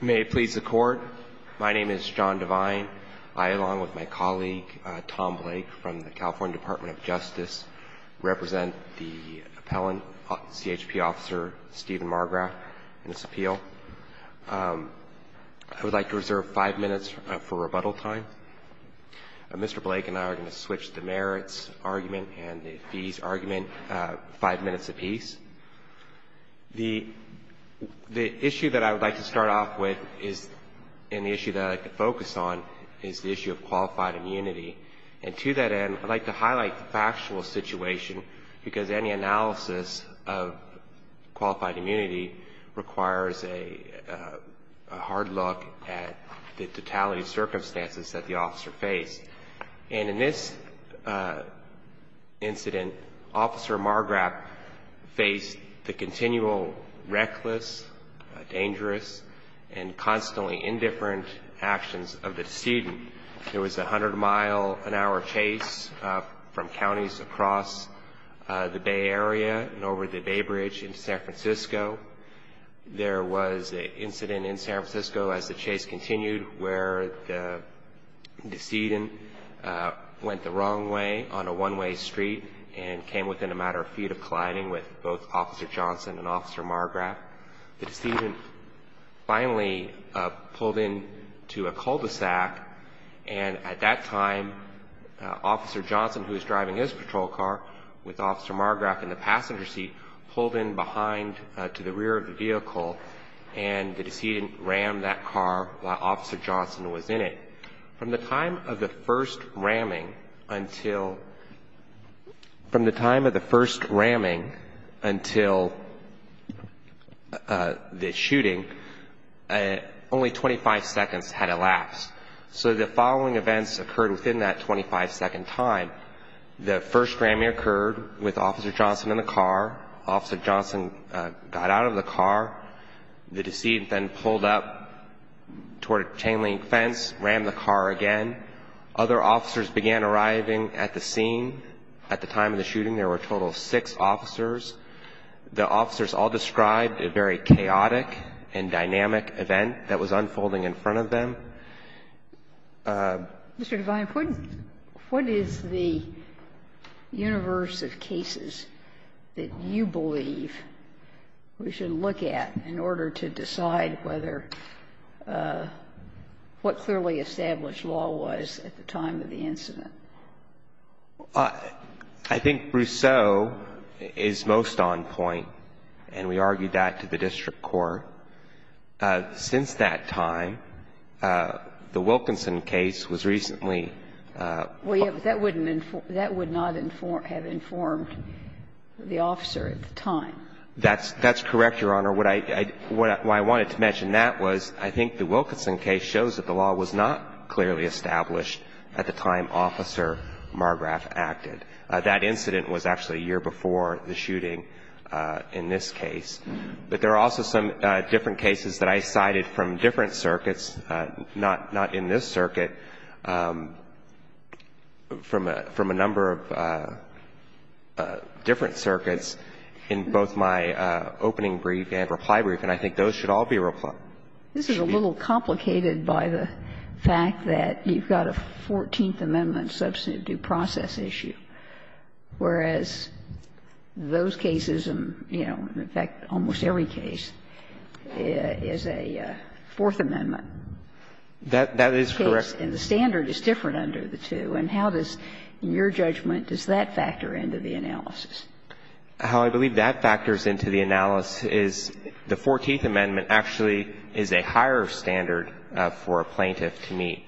May it please the Court. My name is John Devine. I, along with my colleague, Tom Blake, from the California Department of Justice, represent the appellant, CHP officer, Stephen Margraf, in this appeal. I would like to reserve five minutes for rebuttal time. Mr. Blake and I are going to switch the merits argument and the fees argument five minutes apiece. The issue that I would like to start off with and the issue that I would like to focus on is the issue of qualified immunity. And to that end, I would like to highlight the factual situation because any analysis of qualified immunity requires a hard look at the totality of circumstances that the officer faced. And in this incident, Officer Margraf faced the continual reckless, dangerous, and constantly indifferent actions of the decedent. There was a 100-mile-an-hour chase from counties across the Bay Area and over the Bay Bridge into San Francisco. There was an incident in San Francisco, as the chase continued, where the decedent went the wrong way on a one-way street and came within a matter of feet of colliding with both Officer Johnson and Officer Margraf. The decedent finally pulled into a cul-de-sac, and at that time, Officer Johnson, who was driving his patrol car with Officer Margraf in the passenger seat, pulled in behind to the rear of the vehicle, and the decedent rammed that car while Officer Johnson was in it. From the time of the first ramming until the shooting, only 25 seconds had elapsed. So the following events occurred within that 25-second time. The first ramming occurred with Officer Johnson in the car. Officer Johnson got out of the car. The decedent then pulled up toward a chain-link fence, rammed the car again. Other officers began arriving at the scene. At the time of the shooting, there were a total of six officers. The officers all described a very chaotic and dynamic event that was unfolding in front of them. Sotomayor, what is the universe of cases that you believe we should look at in order to decide whether what clearly established law was at the time of the incident? I think Rousseau is most on point, and we argued that to the district court. Since that time, the Wilkinson case was recently ---- Well, yes, but that would not have informed the officer at the time. That's correct, Your Honor. What I wanted to mention in that was I think the Wilkinson case shows that the law was not clearly established at the time Officer Margrave acted. That incident was actually a year before the shooting in this case. But there are also some different cases that I cited from different circuits, not in this circuit, from a number of different circuits in both my opening brief and reply brief, and I think those should all be replied. This is a little complicated by the fact that you've got a Fourteenth Amendment substantive due process issue, whereas those cases and, you know, in fact, almost every case is a Fourth Amendment case. That is correct. And the standard is different under the two. And how does, in your judgment, does that factor into the analysis? How I believe that factors into the analysis is the Fourteenth Amendment actually is a higher standard for a plaintiff to meet.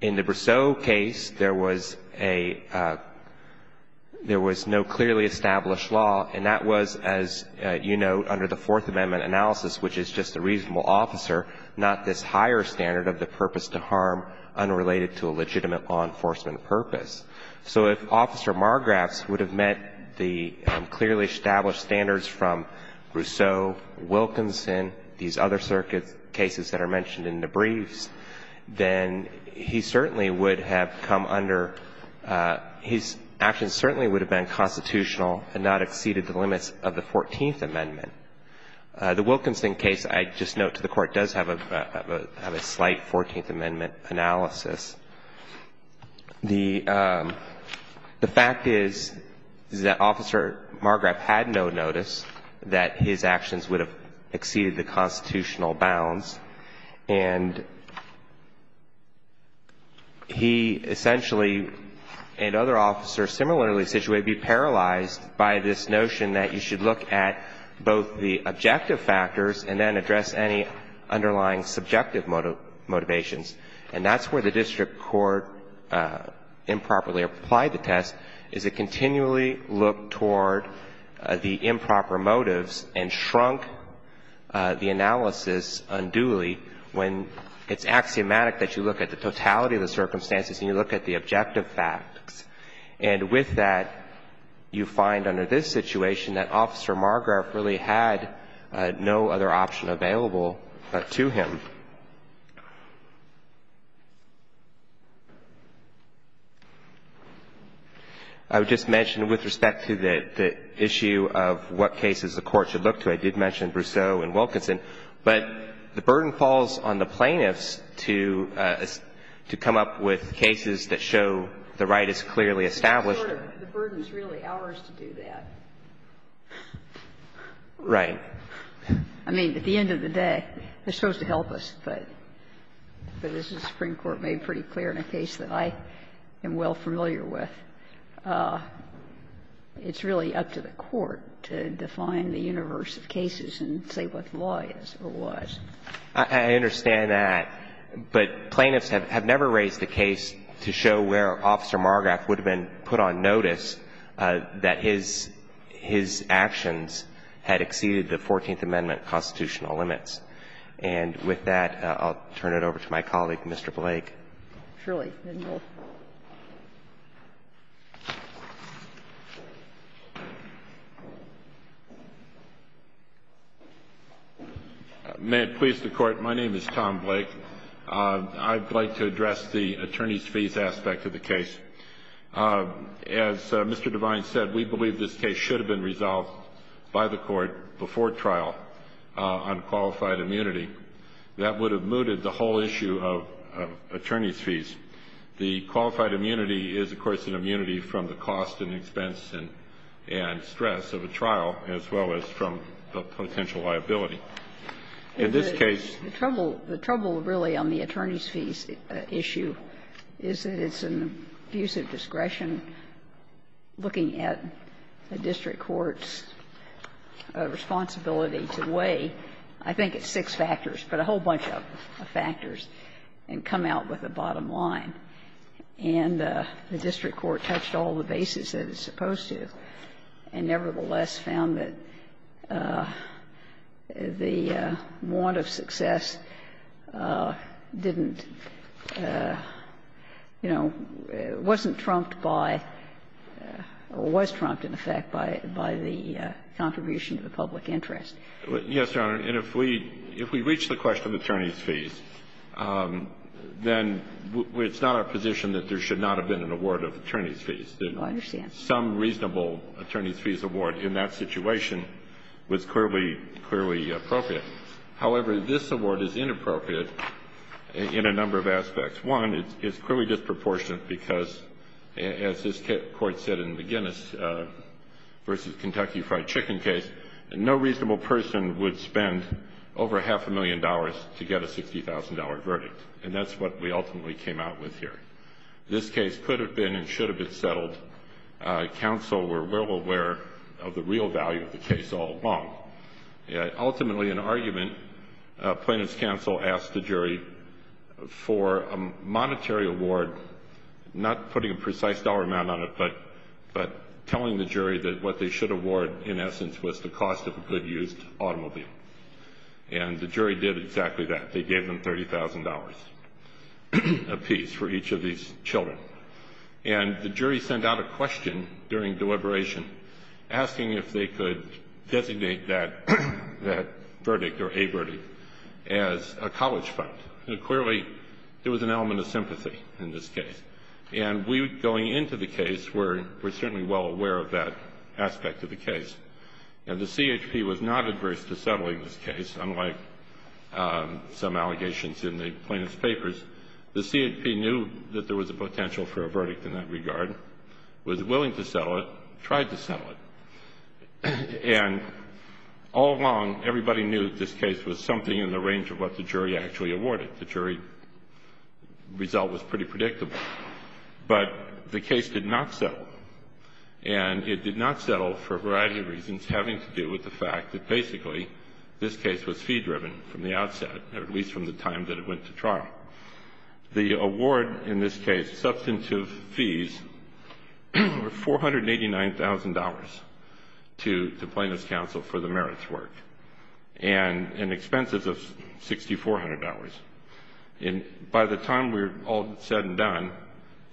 In the Brousseau case, there was a — there was no clearly established law, and that was, as you note, under the Fourth Amendment analysis, which is just a reasonable officer, not this higher standard of the purpose to harm unrelated to a legitimate law enforcement purpose. So if Officer Margrave would have met the clearly established standards from Brousseau, Wilkinson, these other circuit cases that are mentioned in the briefs, then he certainly would have come under — his actions certainly would have been constitutional and not exceeded the limits of the Fourteenth Amendment. The Wilkinson case, I just note to the Court, does have a slight Fourteenth Amendment analysis. The fact is, is that Officer Margrave had no notice that his actions would have exceeded the constitutional bounds. And he essentially, and other officers similarly situated, would be paralyzed by this notion that you should look at both the objective factors and then address any underlying subjective motivations. And that's where the district court improperly applied the test, is it continually looked toward the improper motives and shrunk the analysis unduly when it's axiomatic that you look at the totality of the circumstances and you look at the objective facts. And with that, you find under this situation that Officer Margrave really had no other option available to him. I would just mention with respect to the issue of what cases the Court should look to, I did mention Brousseau and Wilkinson. But the burden falls on the plaintiffs to come up with cases that show the right is clearly established. The burden is really ours to do that. Right. I mean, at the end of the day, they're supposed to help us. But as the Supreme Court made pretty clear in a case that I am well familiar with, it's really up to the Court to define the universe of cases and say what the law is or was. I understand that. But plaintiffs have never raised a case to show where Officer Margrave would have been put on notice that his actions had exceeded the Fourteenth Amendment constitutional limits. And with that, I'll turn it over to my colleague, Mr. Blake. Truly. May it please the Court. My name is Tom Blake. I'd like to address the attorney's fees aspect of the case. As Mr. Devine said, we believe this case should have been resolved by the Court before trial on qualified immunity. That would have mooted the whole issue of attorney's fees. The qualified immunity is, of course, an immunity from the cost and expense and stress of a trial, as well as from potential liability. In this case the trouble, the trouble really on the attorney's fees issue is that there's an abusive discretion looking at a district court's responsibility to weigh, I think it's six factors, but a whole bunch of factors, and come out with a bottom line. And the district court touched all the bases that it's supposed to, and nevertheless found that the want of success didn't, you know, wasn't trumped by, or was trumped, in effect, by the contribution of the public interest. Yes, Your Honor. And if we reach the question of attorney's fees, then it's not our position that there should not have been an award of attorney's fees. I understand. Some reasonable attorney's fees award in that situation was clearly appropriate. However, this award is inappropriate in a number of aspects. One, it's clearly disproportionate because, as this Court said in the Guinness v. Kentucky Fried Chicken case, no reasonable person would spend over half a million dollars to get a $60,000 verdict. And that's what we ultimately came out with here. This case could have been and should have been settled. Counsel were well aware of the real value of the case all along. Ultimately, in argument, plaintiff's counsel asked the jury for a monetary award, not putting a precise dollar amount on it, but telling the jury that what they should award, in essence, was the cost of a good used automobile. And the jury did exactly that. They gave them $30,000 apiece for each of these children. And the jury sent out a question during deliberation asking if they could designate that verdict or a verdict as a college fund. Clearly, there was an element of sympathy in this case. And we, going into the case, were certainly well aware of that aspect of the case. And the CHP was not adverse to settling this case, unlike some allegations in the plaintiff's papers. The CHP knew that there was a potential for a verdict in that regard, was willing to settle it, tried to settle it. And all along, everybody knew this case was something in the range of what the jury actually awarded. But the case did not settle. And it did not settle for a variety of reasons having to do with the fact that basically this case was fee-driven from the outset, or at least from the time that it went to trial. The award in this case, substantive fees, were $489,000 to Plaintiff's Counsel for the merits work, and expenses of $6,400. And by the time we're all said and done,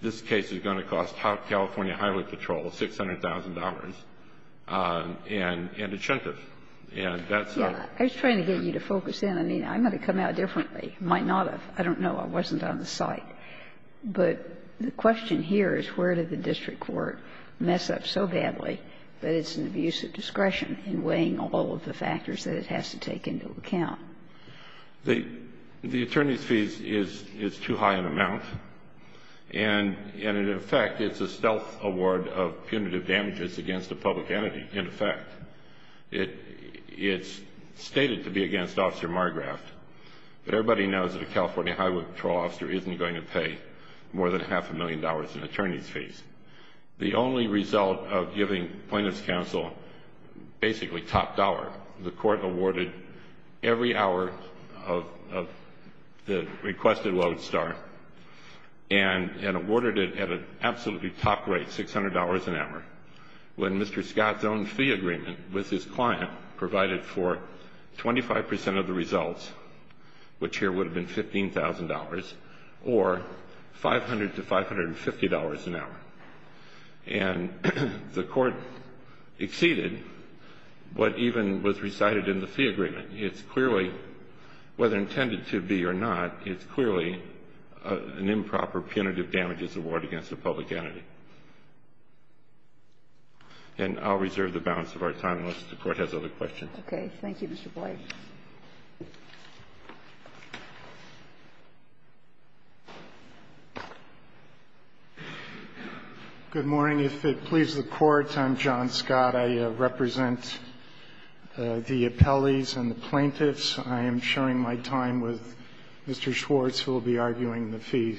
this case is going to cost California Highway Patrol $600,000 and incentive. And that's not the case. Yeah. I was trying to get you to focus in. I mean, I'm going to come out differently. I might not have. I don't know. I wasn't on the site. But the question here is where did the district court mess up so badly that it's an abuse of discretion in weighing all of the factors that it has to take into account? The attorney's fees is too high an amount. And in effect, it's a stealth award of punitive damages against a public entity, in effect. It's stated to be against Officer Margraft. But everybody knows that a California Highway Patrol officer isn't going to pay more than half a million dollars in attorney's fees. The only result of giving Plaintiff's Counsel basically top dollar, the court awarded every hour of the requested load star and awarded it at an absolutely top rate, $600 an hour, when Mr. Scott's own fee agreement with his client provided for 25 percent of the results, which here would have been $15,000, or $500 to $550 an hour. And the court exceeded what even was recited in the fee agreement. It's clearly, whether intended to be or not, it's clearly an improper punitive damages award against a public entity. And I'll reserve the balance of our time unless the Court has other questions. Okay. Thank you, Mr. Boyd. Good morning. If it pleases the Court, I'm John Scott. I represent the appellees and the plaintiffs. I am sharing my time with Mr. Schwartz, who will be arguing the fee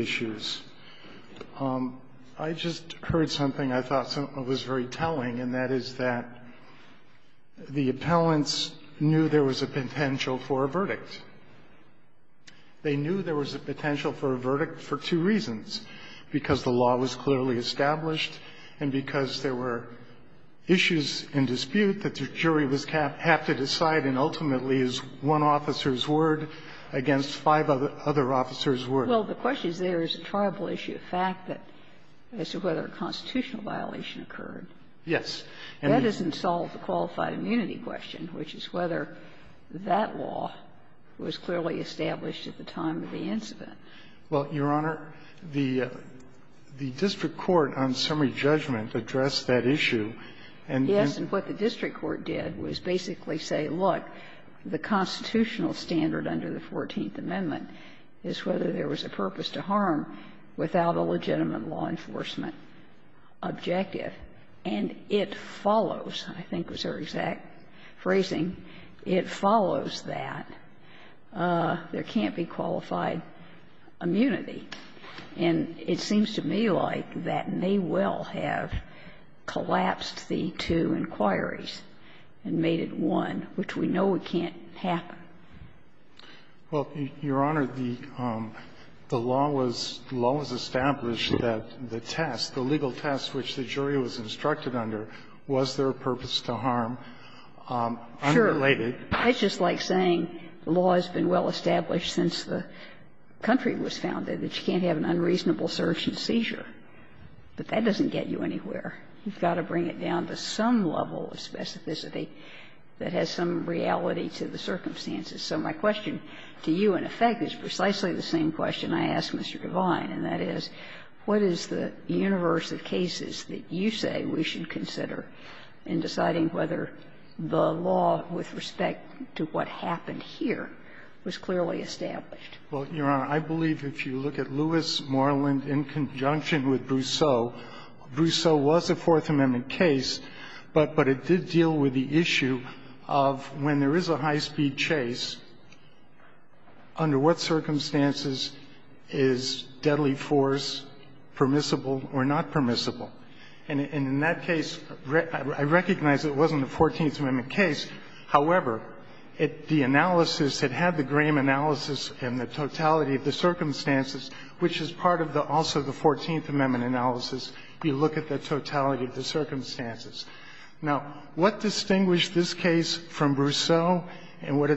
issues. I just heard something I thought was very telling, and that is that the appellants knew there was a potential for a verdict. They knew there was a potential for a verdict for two reasons. Because the law was clearly established, and because there were issues in dispute that the jury would have to decide, and ultimately, as one officer's word against five other officers' word. Well, the question is there is a tribal issue, a fact that as to whether a constitutional violation occurred. Yes. That doesn't solve the qualified immunity question, which is whether that law was clearly established at the time of the incident. Well, Your Honor, the district court on summary judgment addressed that issue. And then the district court did was basically say, look, the constitutional standard under the 14th Amendment is whether there was a purpose to harm without a legitimate law enforcement objective. And it follows, I think was her exact phrasing, it follows that there can't be qualified immunity. And it seems to me like that may well have collapsed the two inquiries and made it one, which we know it can't happen. Well, Your Honor, the law was established that the test, the legal test which the jury was instructed under, was there a purpose to harm unrelated. It's just like saying the law has been well established since the country was founded, that you can't have an unreasonable search and seizure. But that doesn't get you anywhere. You've got to bring it down to some level of specificity that has some reality to the circumstances. So my question to you, in effect, is precisely the same question I asked Mr. Devine, and that is, what is the universe of cases that you say we should consider in deciding whether the law with respect to what happened here was clearly established? Well, Your Honor, I believe if you look at Lewis-Morland in conjunction with Brousseau, Brousseau was a Fourth Amendment case, but it did deal with the issue of when there is a high-speed chase, under what circumstances is deadly force permissible or not permissible? And in that case, I recognize it wasn't a Fourteenth Amendment case. However, the analysis that had the Graham analysis and the totality of the circumstances, which is part of the also the Fourteenth Amendment analysis, you look at the totality of the circumstances. Now, what distinguished this case from Brousseau and what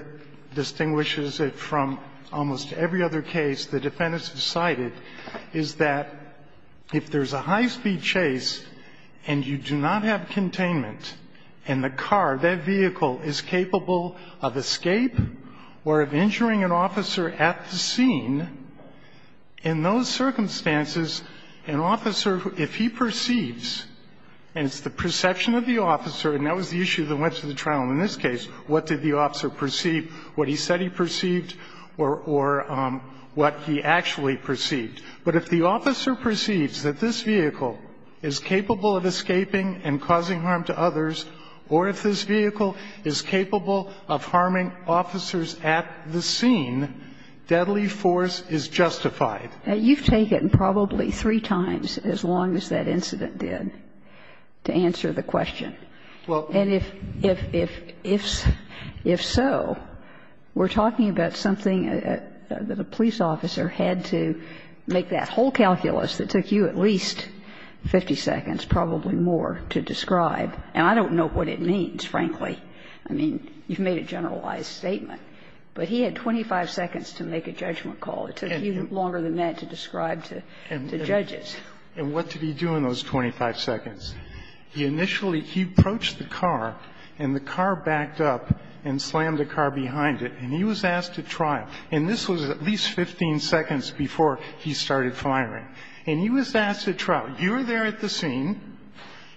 distinguishes it from almost every other case the defendants have cited is that if there is a high-speed chase and you do not have containment, and the car, that vehicle, is capable of escape or of injuring an officer at the scene, in those circumstances, an officer, if he perceives, and it's the perception of the officer, and that was the issue that went to the trial in this case, what did the officer perceive, what he said he perceived, or what he actually perceived. But if the officer perceives that this vehicle is capable of escaping and causing harm to others, or if this vehicle is capable of harming officers at the scene, deadly force is justified. You've taken probably three times as long as that incident did to answer the question. Well, and if so, we're talking about something that a police officer had to make that whole calculus that took you at least 50 seconds, probably more, to describe. And I don't know what it means, frankly. I mean, you've made a generalized statement. But he had 25 seconds to make a judgment call. It took you longer than that to describe to judges. And what did he do in those 25 seconds? He initially he approached the car and the car backed up and slammed the car behind it, and he was asked to try. And this was at least 15 seconds before he started firing. And he was asked at trial, you're there at the scene,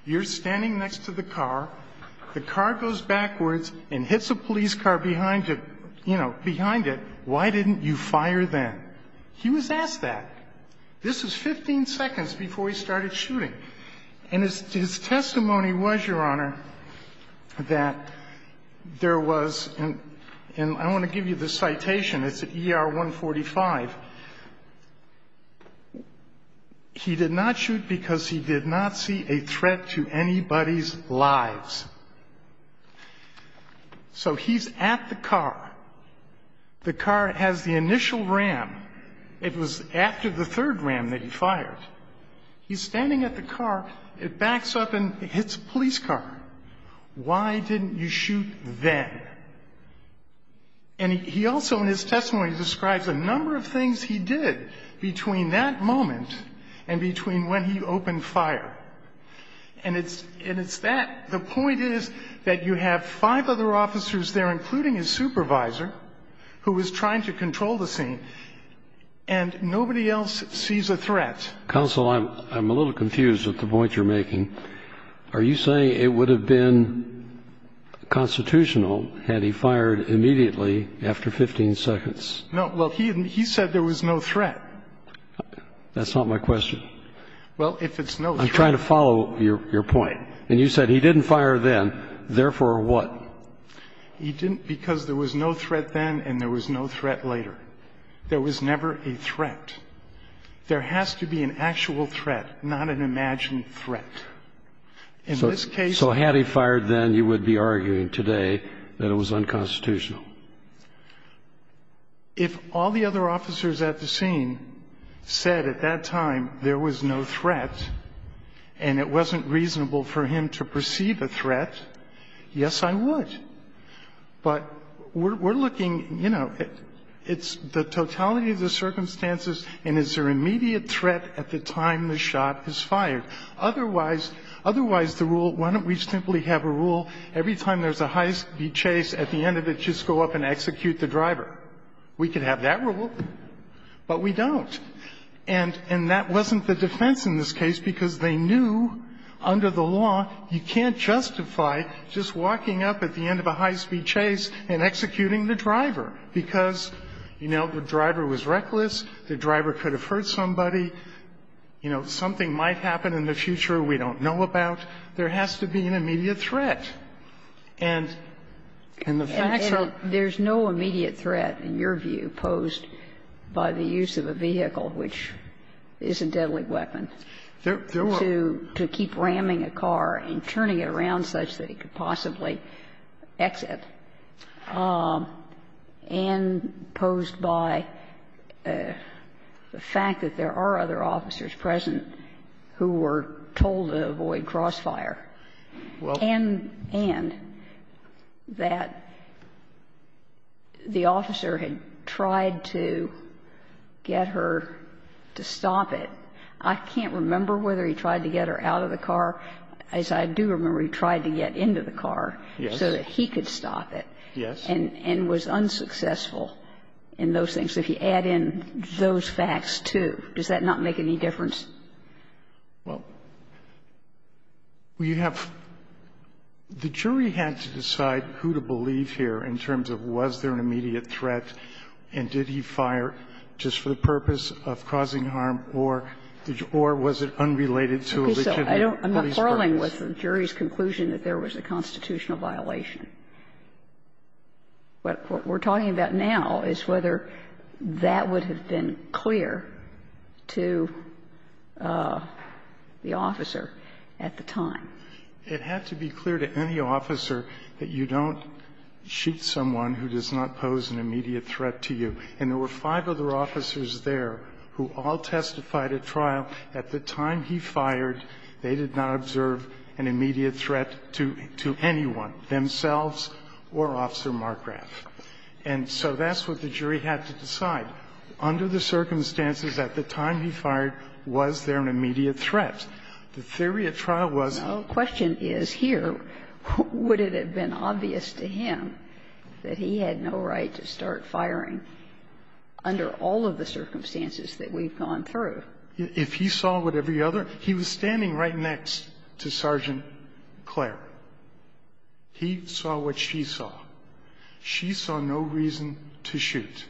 you're standing next to the car, the car goes backwards and hits a police car behind it, you know, behind it, why didn't you fire then? He was asked that. This was 15 seconds before he started shooting. And his testimony was, Your Honor, that there was and I want to give you the citation it's at ER 145, he did not shoot because he did not see a threat to anybody's lives. So he's at the car, the car has the initial ram, it was after the third ram that he fired, he's standing at the car, it backs up and hits a police car, why didn't you shoot then? And he also in his testimony describes a number of things he did between that moment and between when he opened fire. And it's that, the point is that you have five other officers there including his supervisor who was trying to control the scene, and nobody else sees a threat. Counsel, I'm a little confused at the point you're making. Are you saying it would have been constitutional had he fired immediately after 15 seconds? No, well, he said there was no threat. That's not my question. Well, if it's no threat. I'm trying to follow your point. And you said he didn't fire then, therefore what? He didn't because there was no threat then and there was no threat later. There was never a threat. There has to be an actual threat, not an imagined threat. So had he fired then, you would be arguing today that it was unconstitutional. If all the other officers at the scene said at that time there was no threat and it wasn't reasonable for him to perceive a threat, yes, I would. But we're looking, you know, it's the totality of the circumstances and it's their immediate threat at the time the shot is fired. Otherwise, the rule, why don't we simply have a rule every time there's a high-speed chase, at the end of it, just go up and execute the driver? We could have that rule, but we don't. And that wasn't the defense in this case because they knew under the law you can't justify just walking up at the end of a high-speed chase and executing the driver because, you know, the driver was reckless, the driver could have hurt somebody. You know, something might happen in the future we don't know about. There has to be an immediate threat. And the fact that there's no immediate threat, in your view, posed by the use of a vehicle, which is a deadly weapon, to keep ramming a car and turning it around such that he could possibly exit, and posed by the fact that there are other officers present who were told to avoid crossfire, and that the officer had tried to get her to stop it, I can't remember whether he tried to get her out of the car. As I do remember, he tried to get into the car so that he could stop it. And was unsuccessful in those things. If you add in those facts, too, does that not make any difference? Well, you have the jury had to decide who to believe here in terms of was there an immediate threat, and did he fire just for the purpose of causing harm, or was it unrelated to a legitimate police purpose? Okay. So I'm not quarreling with the jury's conclusion that there was a constitutional violation. What we're talking about now is whether that would have been clear to the officer at the time. It had to be clear to any officer that you don't shoot someone who does not pose an immediate threat to you. And there were five other officers there who all testified at trial at the time he fired, they did not observe an immediate threat to anyone, themselves or Officer Markrath. And so that's what the jury had to decide. Under the circumstances at the time he fired, was there an immediate threat? The theory at trial was that he had no right to start firing. Under all of the circumstances that we've gone through. If he saw what every other – he was standing right next to Sergeant Clare. He saw what she saw. She saw no reason to shoot.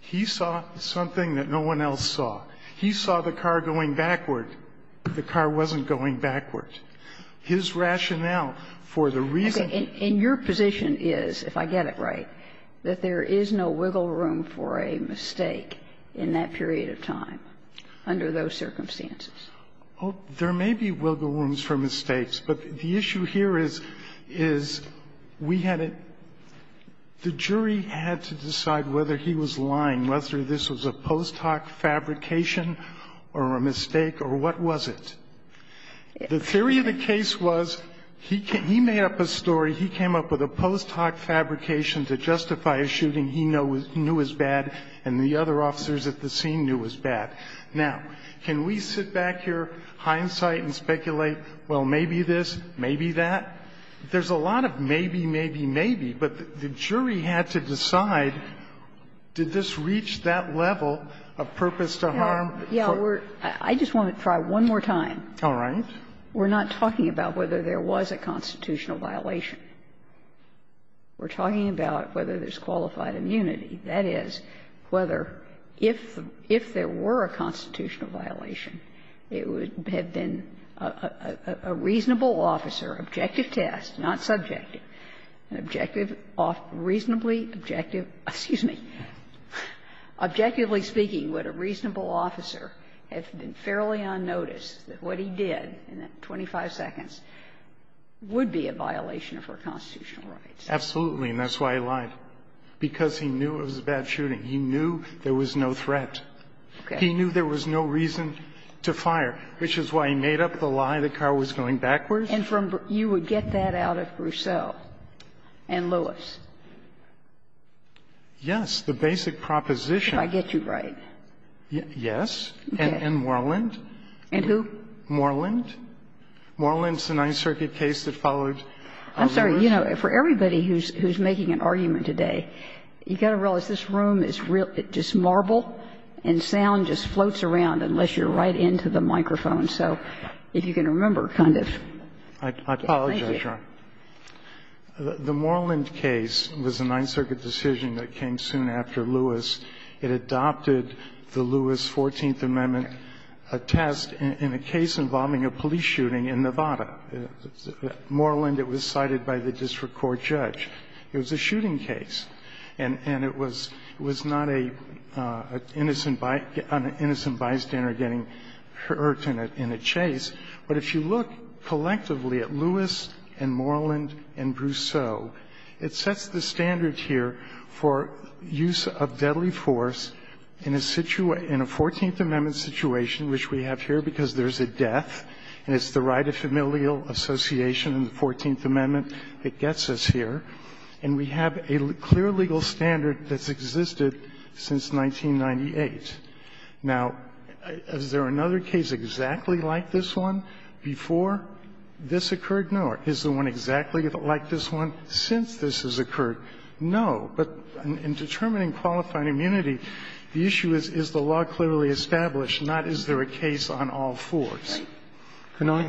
He saw something that no one else saw. He saw the car going backward. The car wasn't going backward. His rationale for the reason – And your position is, if I get it right, that there is no wiggle room for a mistake in that period of time under those circumstances? Oh, there may be wiggle rooms for mistakes. But the issue here is, is we had a – the jury had to decide whether he was lying, whether this was a post hoc fabrication or a mistake or what was it. The theory of the case was he made up a story. He came up with a post hoc fabrication to justify a shooting he knew was bad and the other officers at the scene knew was bad. Now, can we sit back here, hindsight and speculate, well, maybe this, maybe that? There's a lot of maybe, maybe, maybe. But the jury had to decide, did this reach that level of purpose to harm? Yeah, we're – I just want to try one more time. All right. We're not talking about whether there was a constitutional violation. We're talking about whether there's qualified immunity. That is, whether, if there were a constitutional violation, it would have been a reasonable officer, objective test, not subjective, an objective, reasonably objective – excuse me – objectively speaking, would a reasonable officer have been fairly unnoticed that what he did in that 25 seconds would be a violation of our constitutional rights? Absolutely. And that's why he lied, because he knew it was a bad shooting. He knew there was no threat. Okay. He knew there was no reason to fire, which is why he made up the lie the car was going backwards. And from – you would get that out of Grusseau and Lewis. Yes, the basic proposition. If I get you right. Yes. And Moreland. And who? Moreland. Moreland's the Ninth Circuit case that followed Lewis. I'm sorry. You know, for everybody who's making an argument today, you've got to realize this room is real – it's just marble and sound just floats around unless you're right into the microphone. So if you can remember, kind of. I apologize, Your Honor. The Moreland case was a Ninth Circuit decision that came soon after Lewis. It adopted the Lewis 14th Amendment test in a case involving a police shooting in Nevada. Moreland, it was cited by the district court judge. It was a shooting case. And it was not an innocent bystander getting hurt in a chase. But if you look collectively at Lewis and Moreland and Grusseau, it sets the standard here for use of deadly force in a situation – in a 14th Amendment situation which we have here because there's a death. And it's the right of familial association in the 14th Amendment that gets us here. And we have a clear legal standard that's existed since 1998. Now, is there another case exactly like this one before this occurred? No. Is there one exactly like this one since this has occurred? No. But in determining qualifying immunity, the issue is, is the law clearly established, not is there a case on all fours. Can I?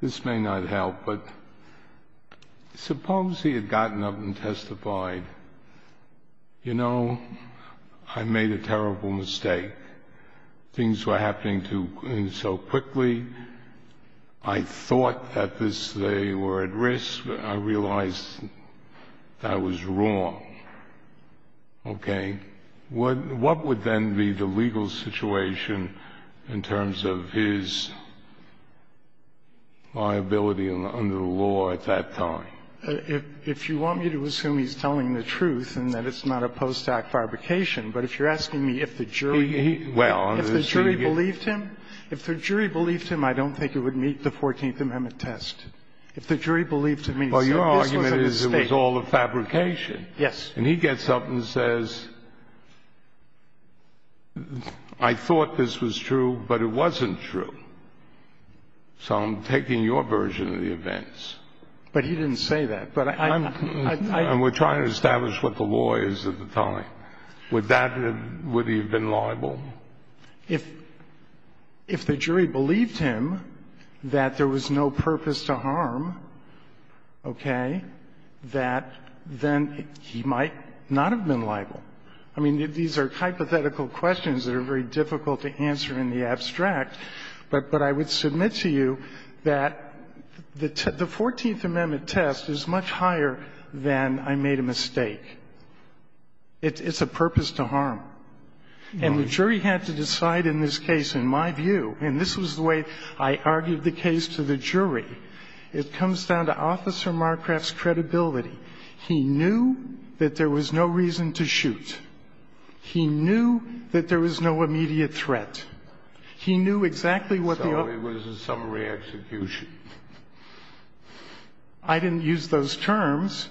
This may not help, but suppose he had gotten up and testified, you know, I made a terrible mistake. Things were happening too – so quickly. I thought that this – they were at risk. I realized that I was wrong. Okay. What would then be the legal situation in terms of his liability under the law at that time? If you want me to assume he's telling the truth and that it's not a post-act fabrication, but if you're asking me if the jury – He – well – If the jury believed him? If the jury believed him, I don't think it would meet the 14th Amendment test. If the jury believed him, he said this was a mistake. Well, your argument is it was all a fabrication. Yes. And he gets up and says, I thought this was true, but it wasn't true. So I'm taking your version of the events. But he didn't say that. But I – And we're trying to establish what the law is at the time. Would that – would he have been liable? If the jury believed him that there was no purpose to harm, okay, that then he might not have been liable. I mean, these are hypothetical questions that are very difficult to answer in the abstract, but I would submit to you that the 14th Amendment test is much higher than I made a mistake. It's a purpose to harm. And the jury had to decide in this case, in my view, and this was the way I argued the case to the jury, it comes down to Officer Marcraft's credibility. He knew that there was no reason to shoot. He knew that there was no immediate threat. He knew exactly what the – So it was a summary execution. I didn't use those terms,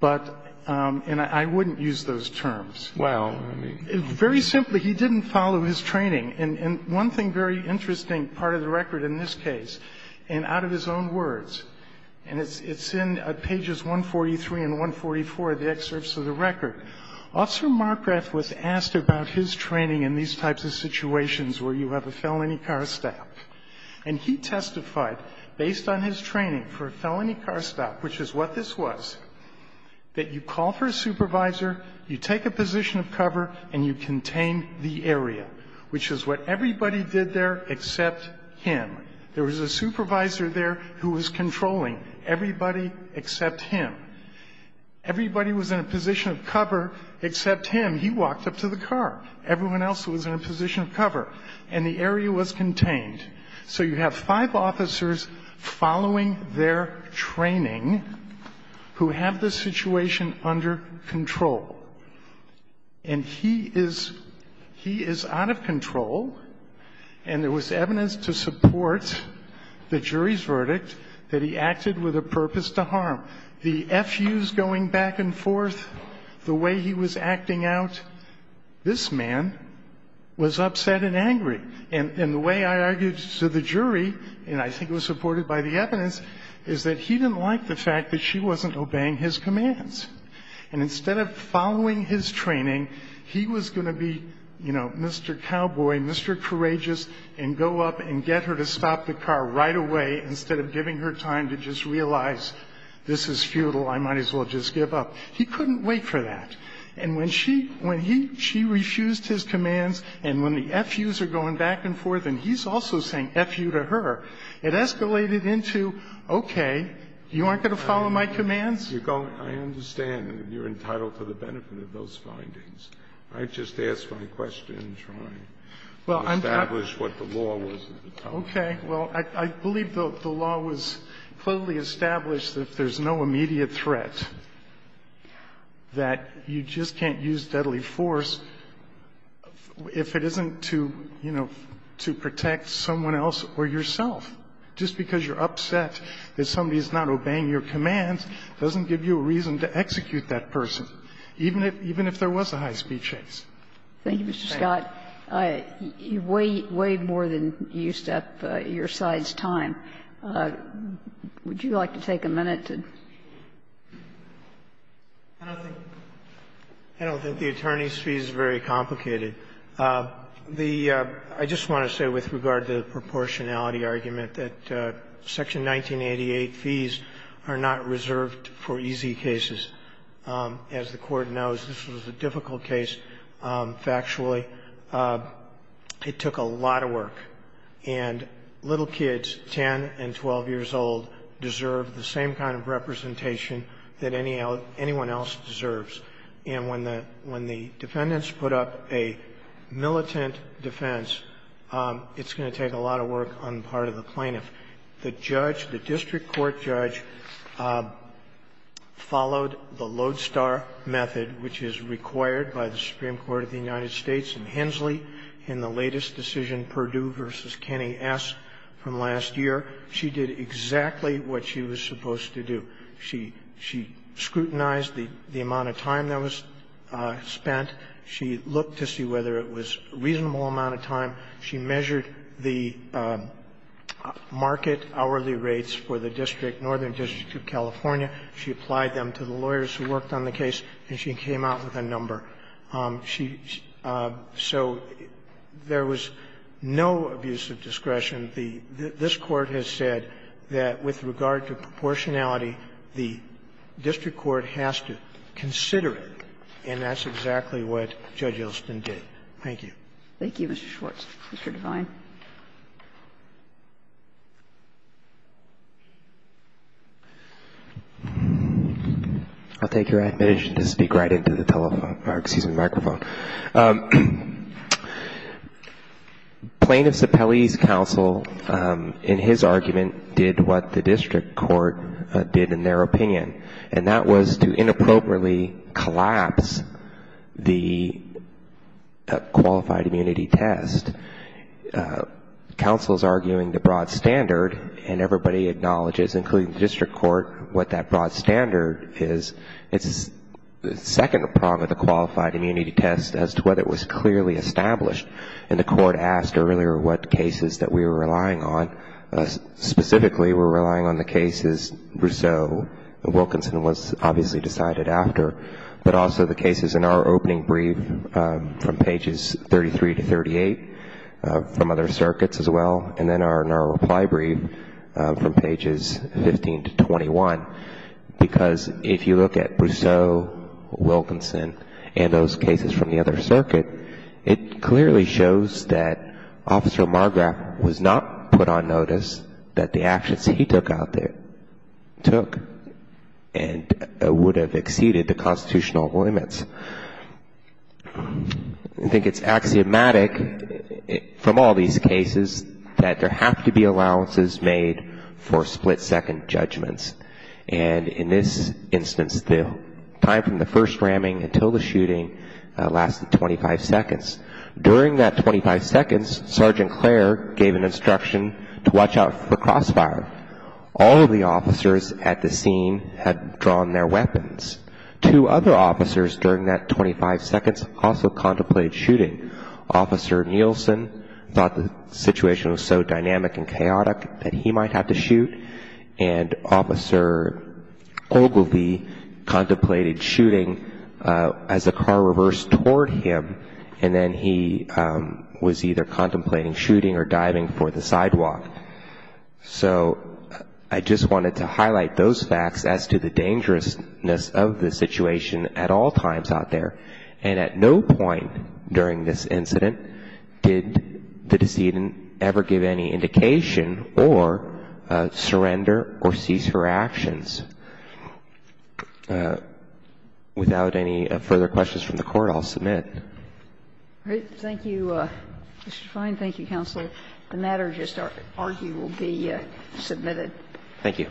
but – and I wouldn't use those terms. Well, I mean – Very simply, he didn't follow his training. And one thing very interesting, part of the record in this case, and out of his own words, and it's in pages 143 and 144 of the excerpts of the record, Officer Marcraft was asked about his training in these types of situations where you have a felony car stab. And he testified, based on his training for a felony car stab, which is what this was, that you call for a supervisor, you take a position of cover, and you contain the area, which is what everybody did there except him. There was a supervisor there who was controlling everybody except him. Everybody was in a position of cover except him. He walked up to the car. Everyone else was in a position of cover, and the area was contained. So you have five officers following their training who have the situation under control. And he is – he is out of control, and there was evidence to support the jury's verdict that he acted with a purpose to harm. The FUs going back and forth, the way he was acting out, this man was upset and angry. And the way I argued to the jury, and I think it was supported by the evidence, is that he didn't like the fact that she wasn't obeying his commands. And instead of following his training, he was going to be, you know, Mr. Cowboy, Mr. Courageous, and go up and get her to stop the car right away instead of giving her time to just realize this is futile, I might as well just give up. He couldn't wait for that. And when she – when he – she refused his commands, and when the FUs are going back and forth, and he's also saying FU to her, it escalated into, okay, you aren't going to follow my commands? You're going – I understand that you're entitled to the benefit of those findings. I just asked my question trying to establish what the law was at the time. Okay. Well, I believe the law was clearly established that there's no immediate threat that you just can't use deadly force if it isn't to, you know, to protect someone else or yourself, just because you're upset that somebody is not obeying your commands doesn't give you a reason to execute that person, even if – even if there was a high-speed chase. Thank you, Mr. Scott. You've weighed more than you used up your side's time. Would you like to take a minute to – I don't think the attorney's fees is very complicated. The – I just want to say with regard to the proportionality argument that Section 1988 fees are not reserved for easy cases. As the Court knows, this was a difficult case, factually. It took a lot of work. And little kids, 10 and 12 years old, deserve the same kind of representation that anyone else deserves. And when the defendants put up a militant defense, it's going to take a lot of work on the part of the plaintiff. The judge, the district court judge, followed the lodestar method, which is required by the Supreme Court of the United States and Hensley in the latest decision, Perdue v. Kenny S., from last year. She did exactly what she was supposed to do. She scrutinized the amount of time that was spent. She looked to see whether it was a reasonable amount of time. She measured the market hourly rates for the district, Northern District of California. She applied them to the lawyers who worked on the case, and she came out with a number of different numbers. So there was no abuse of discretion. This Court has said that with regard to proportionality, the district court has to consider it, and that's exactly what Judge Ilston did. Thank you. Thank you, Mr. Schwartz. Mr. Devine. I'll take your admonition to speak right into the telephone. Plaintiff's appellee's counsel, in his argument, did what the district court did in their opinion, and that was to inappropriately collapse the qualified immunity test. Counsel is arguing the broad standard, and everybody acknowledges, including the district court, what that broad standard is. It's the second prong of the qualified immunity test as to whether it was clearly established, and the court asked earlier what cases that we were relying on. Specifically, we're relying on the cases Brousseau, Wilkinson was obviously decided after, but also the cases in our opening brief from pages 33 to 38, from other circuits as well, and then our reply brief from pages 15 to 21. Because if you look at Brousseau, Wilkinson, and those cases from the other circuit, it clearly shows that Officer Margraf was not put on notice that the actions he took out there took and would have exceeded the constitutional limits. I think it's axiomatic from all these cases that there have to be allowances made for split-second judgments, and in this instance, the time from the first ramming until the shooting lasted 25 seconds. During that 25 seconds, Sergeant Clare gave an instruction to watch out for crossfire. All of the officers at the scene had drawn their weapons. Two other officers during that 25 seconds also contemplated shooting. Officer Nielsen thought the situation was so dynamic and chaotic that he might have to shoot, and Officer Ogilvie contemplated shooting as the car reversed toward him, and then he was either contemplating shooting or diving for the sidewalk. So I just wanted to highlight those facts as to the dangerousness of the situation at all times out there, and at no point during this incident did the decedent ever give any indication or surrender or cease her actions. Without any further questions from the Court, I'll submit. Thank you, Mr. Fein. Thank you, Counsel. The matter just argued will be submitted. Thank you.